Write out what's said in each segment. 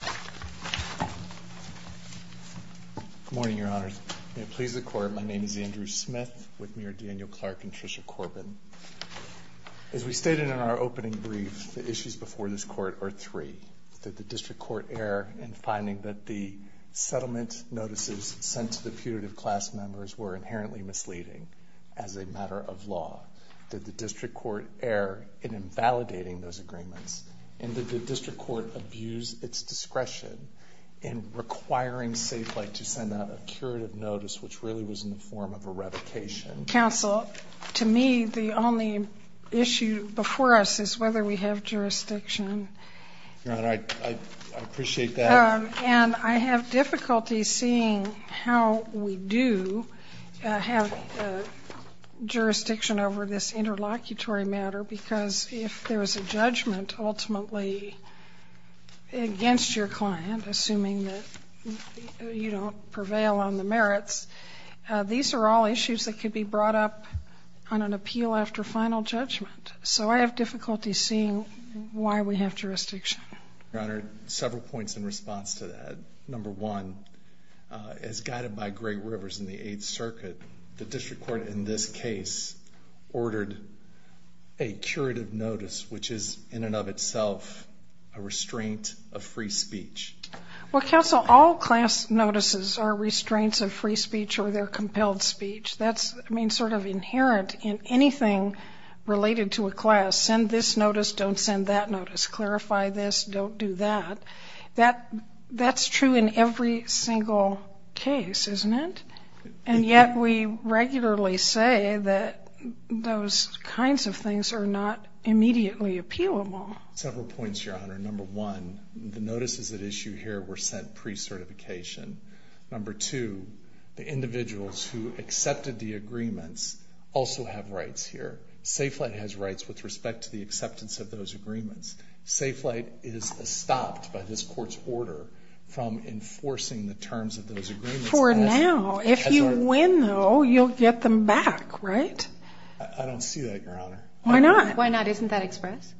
Good morning, Your Honors. May it please the Court, my name is Andrew Smith with Mayor Daniel Clark and Tricia Corbin. As we stated in our opening brief, the issues before this Court are three. Did the District Court err in finding that the settlement notices sent to the putative class members were inherently misleading as a matter of law? Did the District Court err in invalidating those agreements? And did the District Court abuse its discretion in requiring Safelite to send out a curative notice which really was in the form of a revocation? Counsel, to me, the only issue before us is whether we have jurisdiction. Your Honor, I appreciate that. And I have difficulty seeing how we do have jurisdiction over this interlocutory matter, because if there is a judgment ultimately against your client, assuming that you don't prevail on the merits, these are all issues that could be brought up on an appeal after final judgment. So I have difficulty seeing why we have jurisdiction. Your Honor, several points in response to that. Number one, as guided by Greg Rivers in the Eighth Circuit, the District Court in this case ordered a curative notice, which is in and of itself a restraint of free speech. Well, Counsel, all class notices are restraints of free speech or they're compelled speech. That's sort of inherent in anything related to a class. Send this notice, don't send that notice. Clarify this, don't do that. That's true in every single case, isn't it? And yet we regularly say that those kinds of things are not immediately appealable. Several points, Your Honor. Number one, the notices at issue here were sent pre-certification. Number two, the individuals who accepted the agreements also have rights here. Safe Flight has rights with respect to the acceptance of those agreements. Safe Flight is stopped by this Court's order from enforcing the terms of those agreements. For now. If you win, though, you'll get them back, right? I don't see that, Your Honor. Why not? Why not? Isn't that express?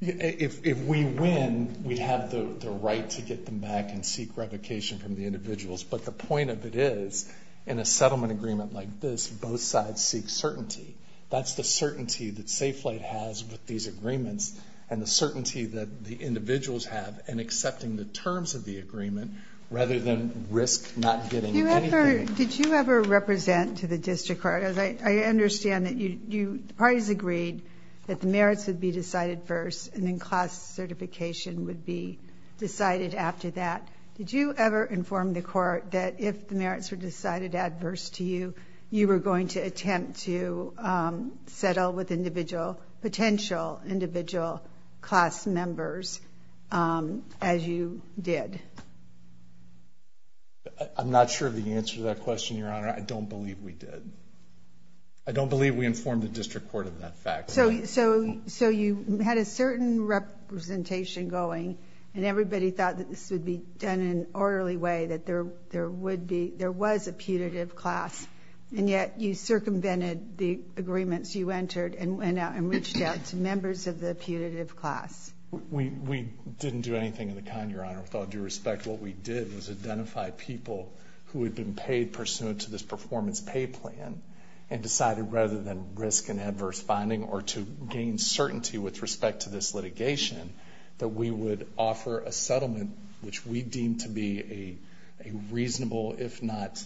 If we win, we'd have the right to get them back and seek revocation from the individuals. But the point of it is, in a settlement agreement like this, both sides seek certainty. That's the certainty that Safe Flight has with these agreements and the certainty that the individuals have in accepting the terms of the agreement rather than risk not getting anything. Did you ever represent to the district court? I understand that the parties agreed that the merits would be decided first and then class certification would be decided after that. Did you ever inform the court that if the merits were decided adverse to you, you were going to attempt to settle with individual potential individual class members as you did? I'm not sure of the answer to that question, Your Honor. I don't believe we did. I don't believe we informed the district court of that fact. So you had a certain representation going and everybody thought that this would be done in an orderly way, that there was a putative class, and yet you circumvented the agreements you entered and reached out to members of the putative class. We didn't do anything of the kind, Your Honor, with all due respect. What we did was identify people who had been paid pursuant to this performance pay plan and decided rather than risk an adverse finding or to gain certainty with respect to this litigation that we would offer a settlement which we deemed to be a reasonable, if not.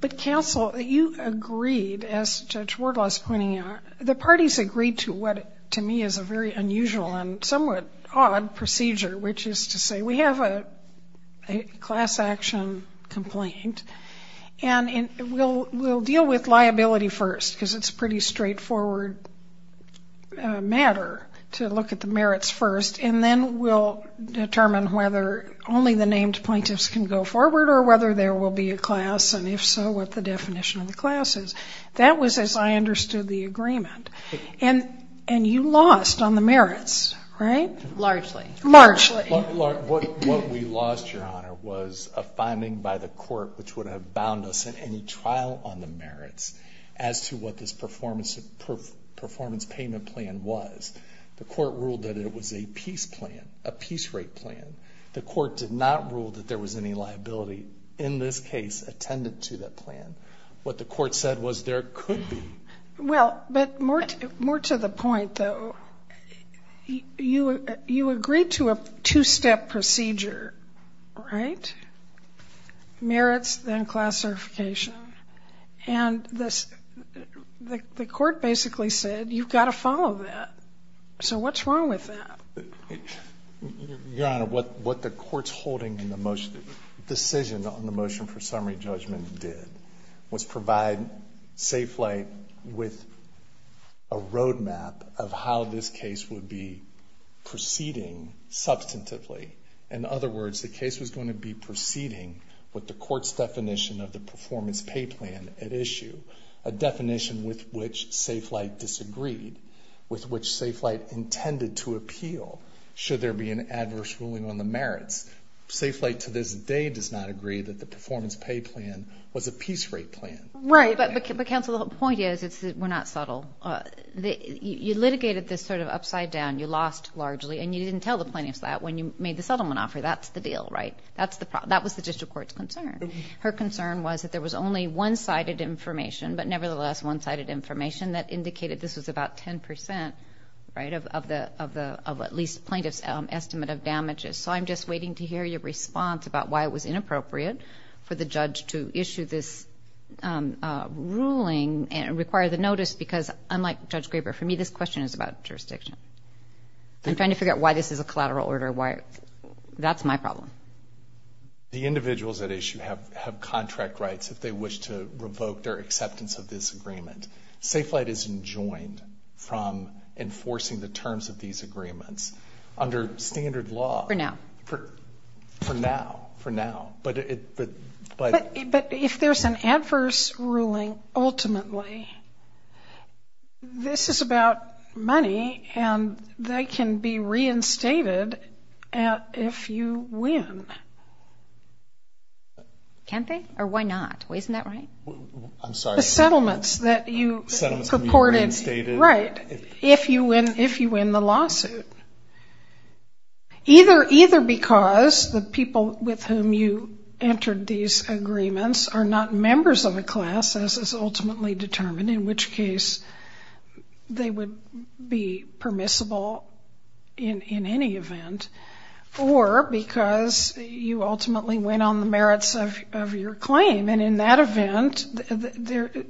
But, counsel, you agreed, as Judge Wardlaw is pointing out, the parties agreed to what to me is a very unusual and somewhat odd procedure, which is to say we have a class action complaint and we'll deal with liability first because it's a pretty straightforward matter to look at the merits first and then we'll determine whether only the named plaintiffs can go forward or whether there will be a class and, if so, what the definition of the class is. That was as I understood the agreement. And you lost on the merits, right? Largely. Largely. What we lost, Your Honor, was a finding by the court which would have bound us in any trial on the merits as to what this performance payment plan was. The court ruled that it was a peace plan, a peace rate plan. The court did not rule that there was any liability in this case attended to that plan. What the court said was there could be. Well, but more to the point, though, you agreed to a two-step procedure, right? Merits, then classification. And the court basically said you've got to follow that. So what's wrong with that? Your Honor, what the court's holding in the decision on the motion for summary judgment did was provide Safe Flight with a roadmap of how this case would be proceeding substantively. In other words, the case was going to be proceeding with the court's definition of the performance pay plan at issue, a definition with which Safe Flight disagreed, with which Safe Flight intended to appeal should there be an adverse ruling on the merits. Safe Flight to this day does not agree that the performance pay plan was a peace rate plan. Right. But, Counsel, the point is we're not subtle. You litigated this sort of upside down. You lost largely. And you didn't tell the plaintiffs that when you made the settlement offer. That's the deal, right? That was the district court's concern. Her concern was that there was only one-sided information, but nevertheless one-sided information that indicated this was about 10%, right, of at least plaintiff's estimate of damages. So I'm just waiting to hear your response about why it was inappropriate for the judge to issue this ruling and require the notice because, unlike Judge Graber, for me this question is about jurisdiction. I'm trying to figure out why this is a collateral order. That's my problem. The individuals at issue have contract rights if they wish to revoke their acceptance of this agreement. Safe Flight isn't joined from enforcing the terms of these agreements under standard law. For now. For now, for now. But if there's an adverse ruling, ultimately, this is about money, and they can be reinstated if you win. Can they? Or why not? Isn't that right? I'm sorry. The settlements that you purported. Settlements can be reinstated. Right. If you win the lawsuit. Either because the people with whom you entered these agreements are not members of a class, as is ultimately determined, in which case they would be permissible in any event, or because you ultimately went on the merits of your claim, and in that event,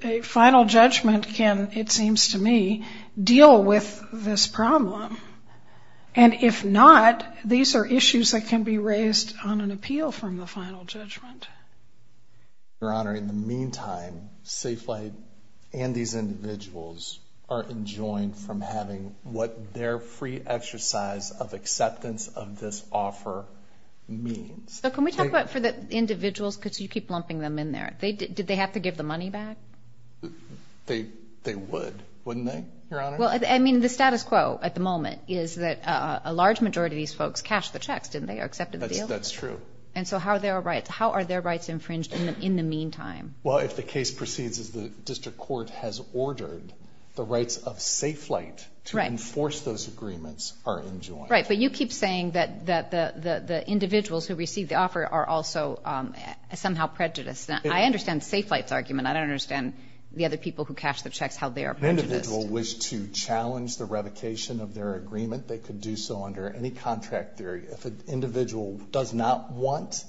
a final judgment can, it seems to me, deal with this problem. And if not, these are issues that can be raised on an appeal from the final judgment. Your Honor, in the meantime, Safe Flight and these individuals are enjoined from having what their free exercise of acceptance of this offer means. So can we talk about for the individuals, because you keep lumping them in there, did they have to give the money back? They would, wouldn't they, Your Honor? Well, I mean, the status quo at the moment is that a large majority of these folks cashed the checks, didn't they, or accepted the deal? That's true. And so how are their rights infringed in the meantime? Well, if the case proceeds as the district court has ordered, the rights of Safe Flight to enforce those agreements are enjoined. Right, but you keep saying that the individuals who received the offer are also somehow prejudiced. I understand Safe Flight's argument. I don't understand the other people who cashed the checks, how they are prejudiced. If an individual wished to challenge the revocation of their agreement, they could do so under any contract theory. If an individual does not want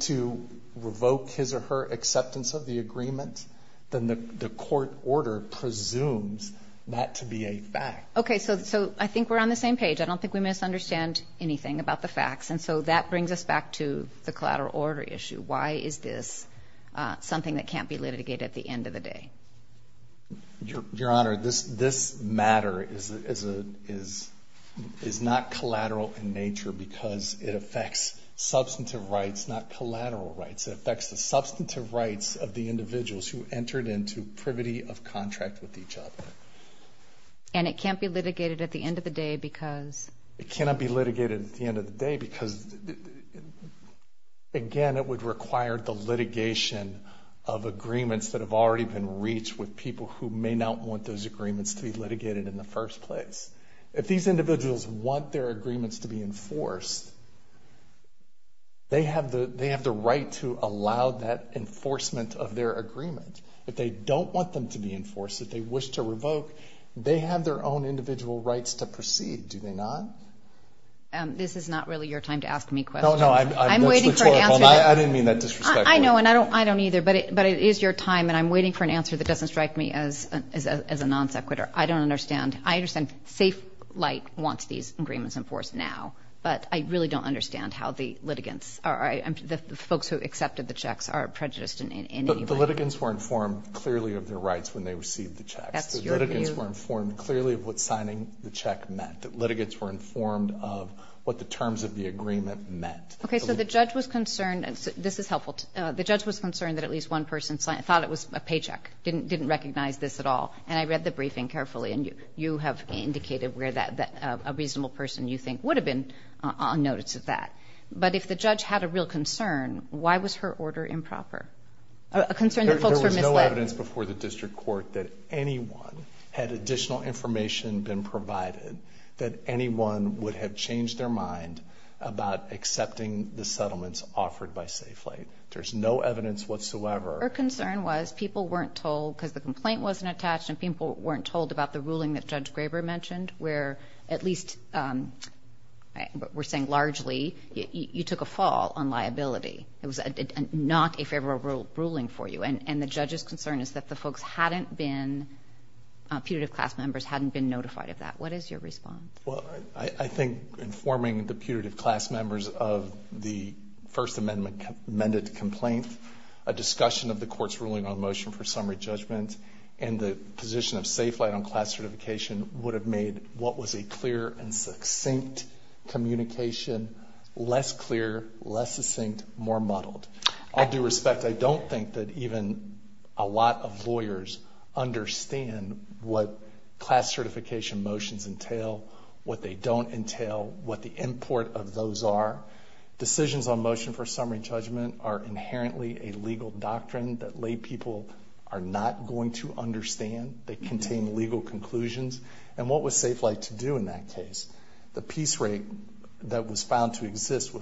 to revoke his or her acceptance of the agreement, then the court order presumes that to be a fact. Okay, so I think we're on the same page. I don't think we misunderstand anything about the facts. And so that brings us back to the collateral order issue. Why is this something that can't be litigated at the end of the day? Your Honor, this matter is not collateral in nature because it affects substantive rights, not collateral rights. It affects the substantive rights of the individuals who entered into privity of contract with each other. And it can't be litigated at the end of the day because? It cannot be litigated at the end of the day because, again, it would require the litigation of agreements that have already been reached with people who may not want those agreements to be litigated in the first place. If these individuals want their agreements to be enforced, they have the right to allow that enforcement of their agreement. If they don't want them to be enforced, if they wish to revoke, they have their own individual rights to proceed. Do they not? This is not really your time to ask me questions. No, no, that's rhetorical. I'm waiting for an answer. I didn't mean that disrespectfully. I know, and I don't either. But it is your time, and I'm waiting for an answer that doesn't strike me as a non-sequitur. I don't understand. I understand Safe Light wants these agreements enforced now, but I really don't understand how the litigants, the folks who accepted the checks are prejudiced in any way. The litigants were informed clearly of their rights when they received the checks. That's your view. The litigants were informed clearly of what signing the check meant. The litigants were informed of what the terms of the agreement meant. Okay, so the judge was concerned, and this is helpful, the judge was concerned that at least one person thought it was a paycheck, didn't recognize this at all. And I read the briefing carefully, and you have indicated where a reasonable person you think would have been on notice of that. But if the judge had a real concern, why was her order improper? A concern that folks were misled. There was no evidence before the district court that anyone had additional information been provided that anyone would have changed their mind about accepting the settlements offered by Safe Light. There's no evidence whatsoever. Her concern was people weren't told because the complaint wasn't attached and people weren't told about the ruling that Judge Graber mentioned, where at least we're saying largely you took a fall on liability. It was not a favorable ruling for you. And the judge's concern is that the folks hadn't been, putative class members hadn't been notified of that. What is your response? Well, I think informing the putative class members of the First Amendment-amended complaint, a discussion of the court's ruling on motion for summary judgment and the position of Safe Light on class certification would have made what was a clear and succinct communication less clear, less succinct, more muddled. All due respect, I don't think that even a lot of lawyers understand what class certification motions entail, what they don't entail, what the import of those are. Decisions on motion for summary judgment are inherently a legal doctrine that lay people are not going to understand. They contain legal conclusions. And what was Safe Light to do in that case? The piece rate that was found to exist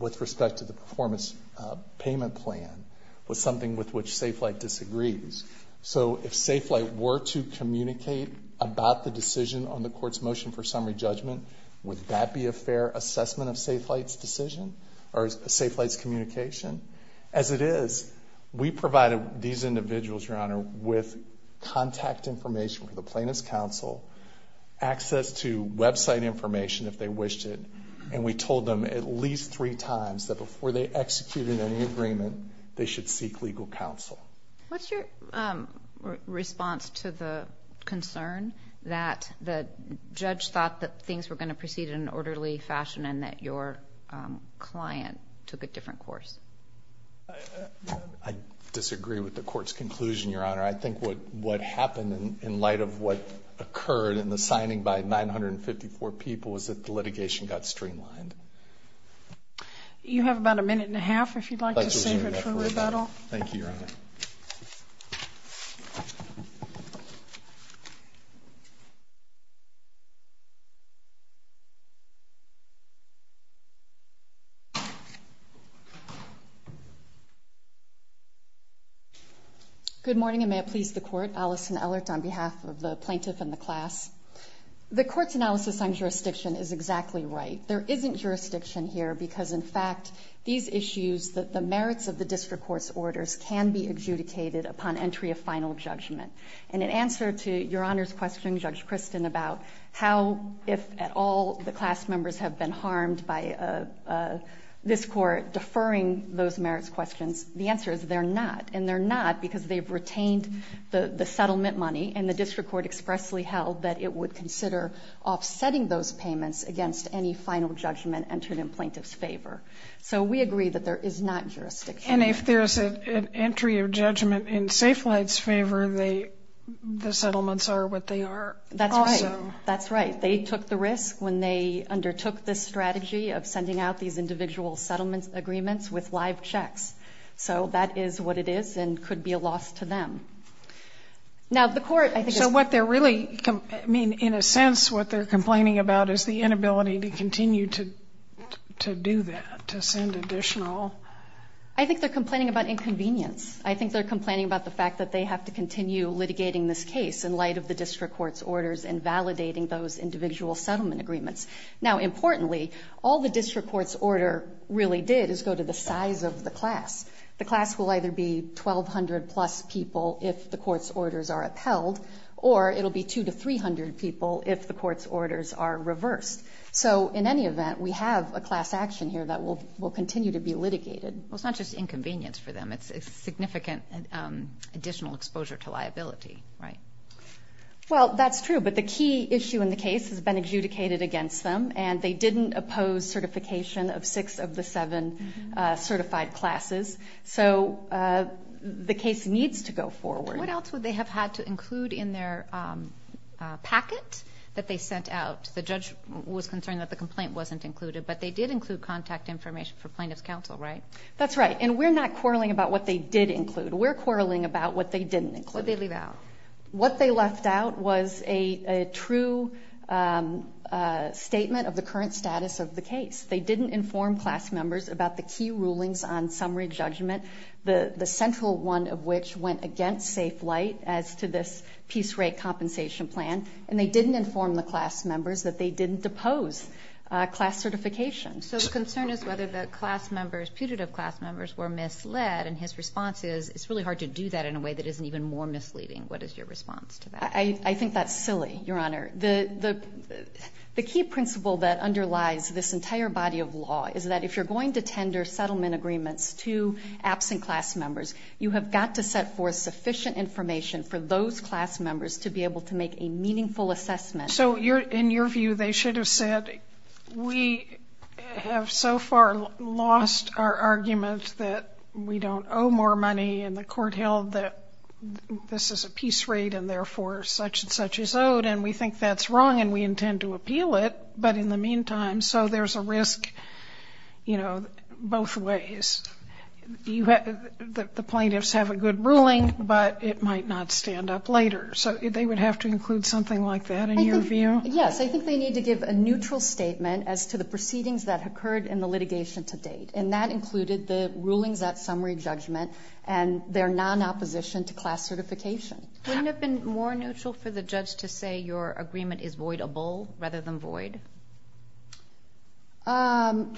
with respect to the performance payment plan was something with which Safe Light disagrees. So if Safe Light were to communicate about the decision on the court's motion for summary judgment, would that be a fair assessment of Safe Light's decision or Safe Light's communication? As it is, we provided these individuals, Your Honor, with contact information for the plaintiff's counsel, access to website information if they wished it, and we told them at least three times that before they executed any agreement, they should seek legal counsel. What's your response to the concern that the judge thought that things were going to proceed in an orderly fashion and that your client took a different course? I disagree with the court's conclusion, Your Honor. I think what happened in light of what occurred in the signing by 954 people was that the litigation got streamlined. You have about a minute and a half if you'd like to save it for rebuttal. Thank you, Your Honor. Thank you. Good morning, and may it please the Court. Allison Ellert on behalf of the plaintiff and the class. The court's analysis on jurisdiction is exactly right. There isn't jurisdiction here because, in fact, these issues that the merits of the district court's orders can be adjudicated upon entry of final judgment. And in answer to Your Honor's question, Judge Kristen, about how, if at all, the class members have been harmed by this court deferring those merits questions, the answer is they're not. And they're not because they've retained the settlement money and the district court expressly held that it would consider offsetting those payments against any final judgment entered in plaintiff's favor. So we agree that there is not jurisdiction. And if there's an entry of judgment in Safelite's favor, the settlements are what they are also. That's right. That's right. They took the risk when they undertook this strategy of sending out these individual settlement agreements with live checks. So that is what it is and could be a loss to them. Now, the court, I think, is – So what they're really – I mean, in a sense, what they're complaining about is the inability to continue to do that, to send additional – I think they're complaining about inconvenience. I think they're complaining about the fact that they have to continue litigating this case in light of the district court's orders and validating those individual settlement agreements. Now, importantly, all the district court's order really did is go to the size of the class. The class will either be 1,200-plus people if the court's orders are upheld, or it will be 200-300 people if the court's orders are reversed. So in any event, we have a class action here that will continue to be litigated. Well, it's not just inconvenience for them. It's significant additional exposure to liability, right? Well, that's true, but the key issue in the case has been adjudicated against them, and they didn't oppose certification of six of the seven certified classes. So the case needs to go forward. What else would they have had to include in their packet that they sent out? The judge was concerned that the complaint wasn't included, but they did include contact information for plaintiff's counsel, right? That's right, and we're not quarreling about what they did include. We're quarreling about what they didn't include. What did they leave out? What they left out was a true statement of the current status of the case. They didn't inform class members about the key rulings on summary judgment, the central one of which went against safe light as to this peace rate compensation plan, and they didn't inform the class members that they didn't oppose class certification. So the concern is whether the class members, putative class members, were misled, and his response is it's really hard to do that in a way that isn't even more misleading. What is your response to that? I think that's silly, Your Honor. The key principle that underlies this entire body of law is that if you're going to tender settlement agreements to absent class members, you have got to set forth sufficient information for those class members to be able to make a meaningful assessment. So in your view, they should have said, we have so far lost our argument that we don't owe more money, and the court held that this is a peace rate and, therefore, such and such is owed, and we think that's wrong and we intend to appeal it, but in the meantime, so there's a risk both ways. The plaintiffs have a good ruling, but it might not stand up later. So they would have to include something like that in your view? Yes. I think they need to give a neutral statement as to the proceedings that occurred in the litigation to date, and that included the rulings at summary judgment and their non-opposition to class certification. Wouldn't it have been more neutral for the judge to say your agreement is voidable rather than void? Well,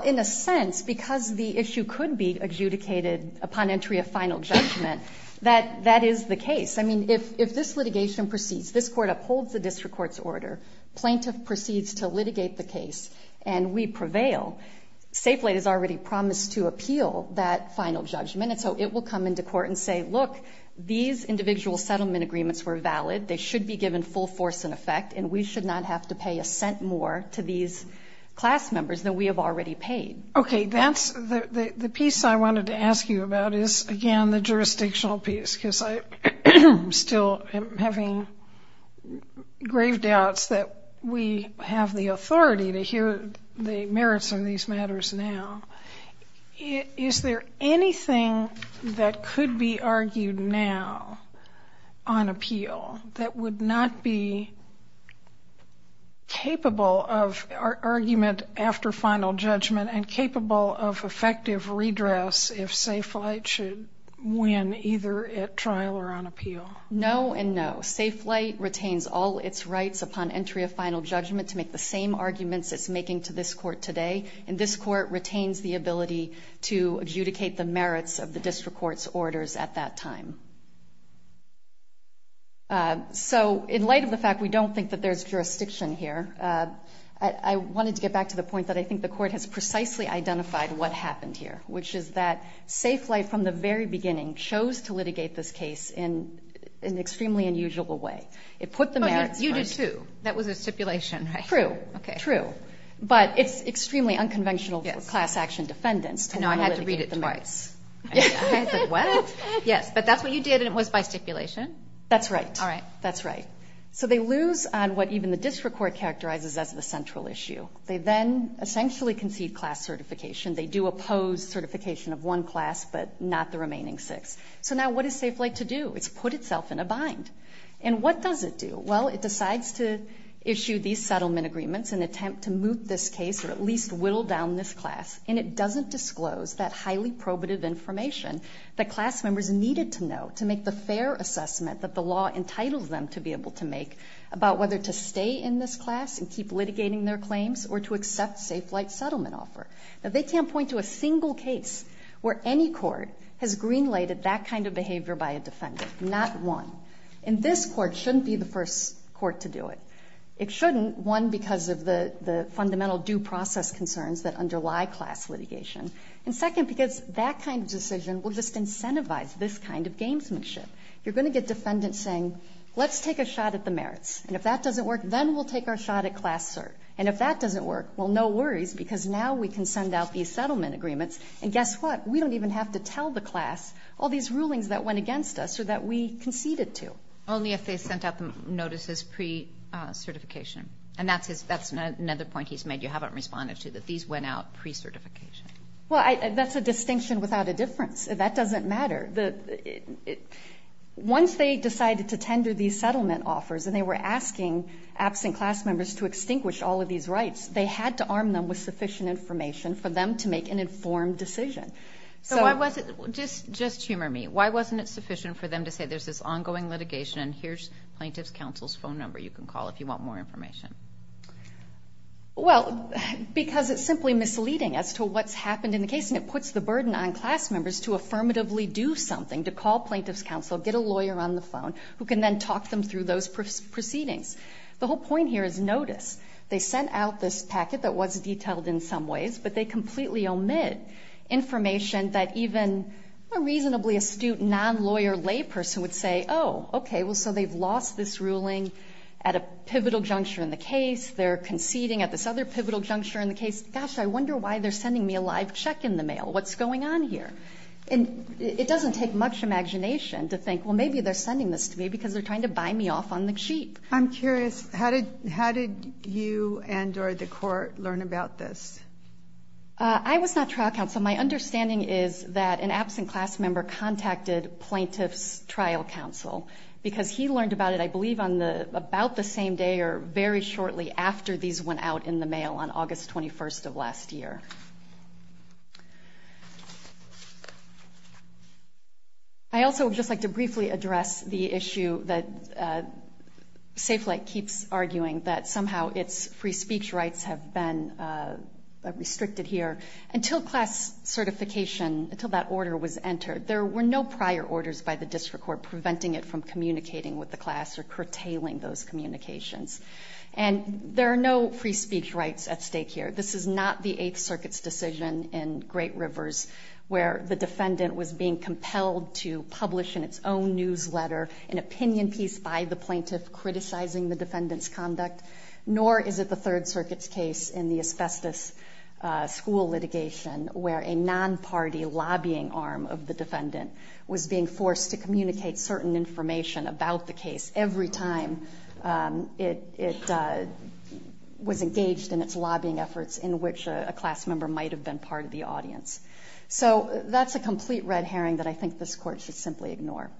in a sense, because the issue could be adjudicated upon entry of final judgment, that is the case. I mean, if this litigation proceeds, this court upholds the district court's order, plaintiff proceeds to litigate the case, and we prevail, Safeway has already promised to appeal that final judgment, and so it will come into court and say, look, these individual settlement agreements were valid, they should be given full force and effect, and we should not have to pay a cent more to these class members than we have already paid. Okay, that's the piece I wanted to ask you about is, again, the jurisdictional piece, because I still am having grave doubts that we have the authority to hear the merits of these matters now. Is there anything that could be argued now on appeal that would not be capable of argument after final judgment and capable of effective redress if Safe Flight should win either at trial or on appeal? No and no. Safe Flight retains all its rights upon entry of final judgment to make the same arguments it's making to this court today, and this court retains the ability to adjudicate the merits of the district court's orders at that time. So in light of the fact we don't think that there's jurisdiction here, I wanted to get back to the point that I think the court has precisely identified what happened here, which is that Safe Flight from the very beginning chose to litigate this case in an extremely unusual way. It put the merits first. You do too. That was a stipulation, right? True, true. But it's extremely unconventional for class action defendants to not litigate the merits. I know, I had to read it twice. I was like, what? Yes, but that's what you did and it was by stipulation? That's right. All right. That's right. So they lose on what even the district court characterizes as the central issue. They then essentially concede class certification. They do oppose certification of one class but not the remaining six. So now what does Safe Flight to do? It's put itself in a bind. And what does it do? Well, it decides to issue these settlement agreements in an attempt to moot this case or at least whittle down this class, and it doesn't disclose that highly probative information that class members needed to know to make the fair assessment that the law entitled them to be able to make about whether to stay in this class and keep litigating their claims or to accept Safe Flight's settlement offer. Now, they can't point to a single case where any court has green-lighted that kind of behavior by a defendant. Not one. And this court shouldn't be the first court to do it. It shouldn't, one, because of the fundamental due process concerns that underlie class litigation, and, second, because that kind of decision will just incentivize this kind of gamesmanship. You're going to get defendants saying, let's take a shot at the merits. And if that doesn't work, then we'll take our shot at class cert. And if that doesn't work, well, no worries, because now we can send out these settlement agreements. And guess what? We don't even have to tell the class all these rulings that went against us or that we conceded to. Only if they sent out the notices pre-certification. And that's another point he's made you haven't responded to, that these went out pre-certification. Well, that's a distinction without a difference. That doesn't matter. Once they decided to tender these settlement offers and they were asking absent class members to extinguish all of these rights, they had to arm them with sufficient information for them to make an informed decision. So why wasn't, just humor me, why wasn't it sufficient for them to say there's this ongoing litigation and here's Plaintiff's Counsel's phone number you can call if you want more information? Well, because it's simply misleading as to what's happened in the case, and it puts the burden on class members to affirmatively do something, to call Plaintiff's Counsel, get a lawyer on the phone, who can then talk them through those proceedings. The whole point here is notice. They sent out this packet that was detailed in some ways, but they completely omit information that even a reasonably astute non-lawyer lay person would say, oh, okay, well, so they've lost this ruling at a pivotal juncture in the case. They're conceding at this other pivotal juncture in the case. Gosh, I wonder why they're sending me a live check in the mail. What's going on here? And it doesn't take much imagination to think, well, maybe they're sending this to me because they're trying to buy me off on the cheap. I'm curious, how did you and or the court learn about this? I was not trial counsel. So my understanding is that an absent class member contacted Plaintiff's Trial Counsel because he learned about it, I believe, on about the same day or very shortly after these went out in the mail on August 21st of last year. I also would just like to briefly address the issue that Safe Flight keeps arguing, that somehow its free speech rights have been restricted here until class certification, until that order was entered. There were no prior orders by the district court preventing it from communicating with the class or curtailing those communications. And there are no free speech rights at stake here. This is not the Eighth Circuit's decision in Great Rivers where the defendant was being compelled to publish in its own newsletter an opinion piece by the plaintiff criticizing the defendant's conduct, nor is it the Third Circuit's case in the asbestos school litigation where a non-party lobbying arm of the defendant was being forced to communicate certain information about the case every time it was engaged in its lobbying efforts in which a class member might have been part of the audience. So that's a complete red herring that I think this court should simply ignore.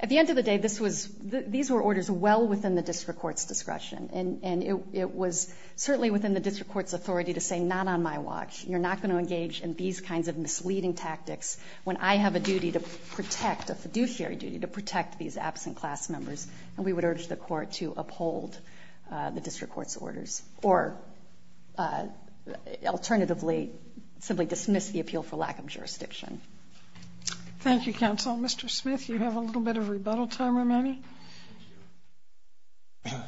At the end of the day, these were orders well within the district court's discretion, and it was certainly within the district court's authority to say, not on my watch, you're not going to engage in these kinds of misleading tactics when I have a duty to protect, a fiduciary duty to protect these absent class members, and we would urge the court to uphold the district court's orders or alternatively simply dismiss the appeal for lack of jurisdiction. Thank you, counsel. Mr. Smith, you have a little bit of rebuttal time remaining.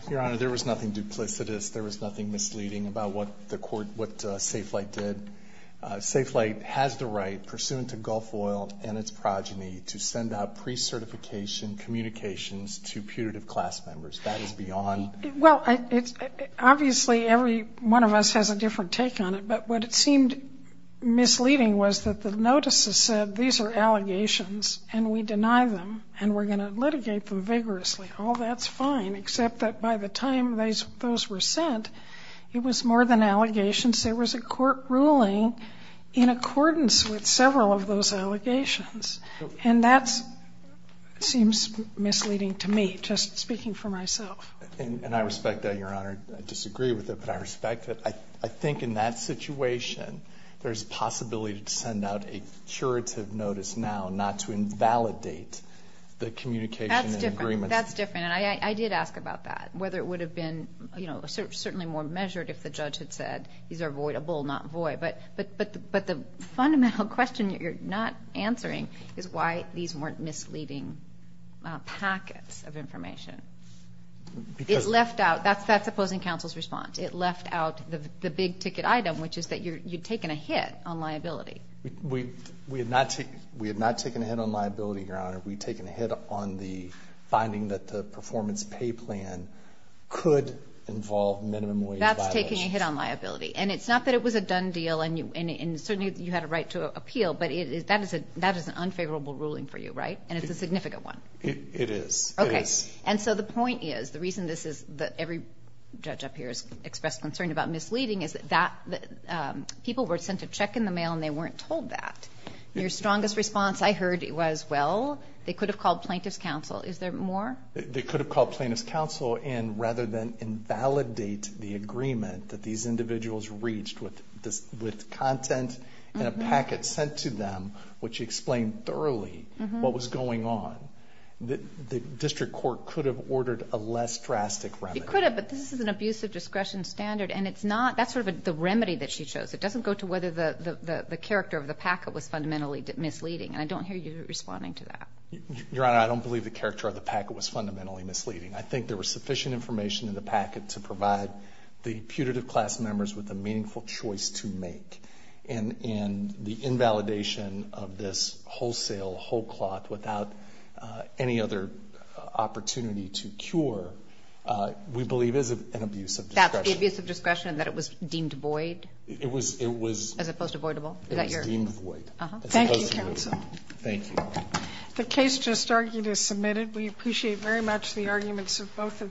Your Honor, there was nothing duplicitous. There was nothing misleading about what the court, what Safe Flight did. Safe Flight has the right, pursuant to Gulf Oil and its progeny, to send out pre-certification communications to putative class members. That is beyond. Well, obviously every one of us has a different take on it, but what it seemed misleading was that the notices said these are allegations and we deny them and we're going to litigate them vigorously. All that's fine, except that by the time those were sent, it was more than allegations. There was a court ruling in accordance with several of those allegations. And that seems misleading to me, just speaking for myself. And I respect that, Your Honor. I disagree with it, but I respect it. I think in that situation there's a possibility to send out a curative notice now not to invalidate the communication and agreements. That's different. That's different. And I did ask about that, whether it would have been certainly more measured if the judge had said these are voidable, not void. But the fundamental question you're not answering is why these weren't misleading packets of information. It left out. That's opposing counsel's response. It left out the big ticket item, which is that you'd taken a hit on liability. We had not taken a hit on liability, Your Honor. We'd taken a hit on the finding that the performance pay plan could involve minimum wage violations. That's taking a hit on liability. And it's not that it was a done deal and certainly you had a right to appeal, but that is an unfavorable ruling for you, right? And it's a significant one. It is. Okay. And so the point is, the reason this is that every judge up here has expressed concern about misleading is that people were sent a check in the mail and they weren't told that. Your strongest response I heard was, well, they could have called plaintiff's counsel. Is there more? They could have called plaintiff's counsel, and rather than invalidate the agreement that these individuals reached with content and a packet sent to them which explained thoroughly what was going on, the district court could have ordered a less drastic remedy. It could have, but this is an abuse of discretion standard, and that's sort of the remedy that she chose. It doesn't go to whether the character of the packet was fundamentally misleading, and I don't hear you responding to that. Your Honor, I don't believe the character of the packet was fundamentally misleading. I think there was sufficient information in the packet to provide the putative class members with a meaningful choice to make. And the invalidation of this wholesale whole cloth without any other opportunity to cure, we believe is an abuse of discretion. That's an abuse of discretion in that it was deemed void? It was. As opposed to voidable? It was deemed void. Thank you, counsel. Thank you. We appreciate very much the arguments of both of you.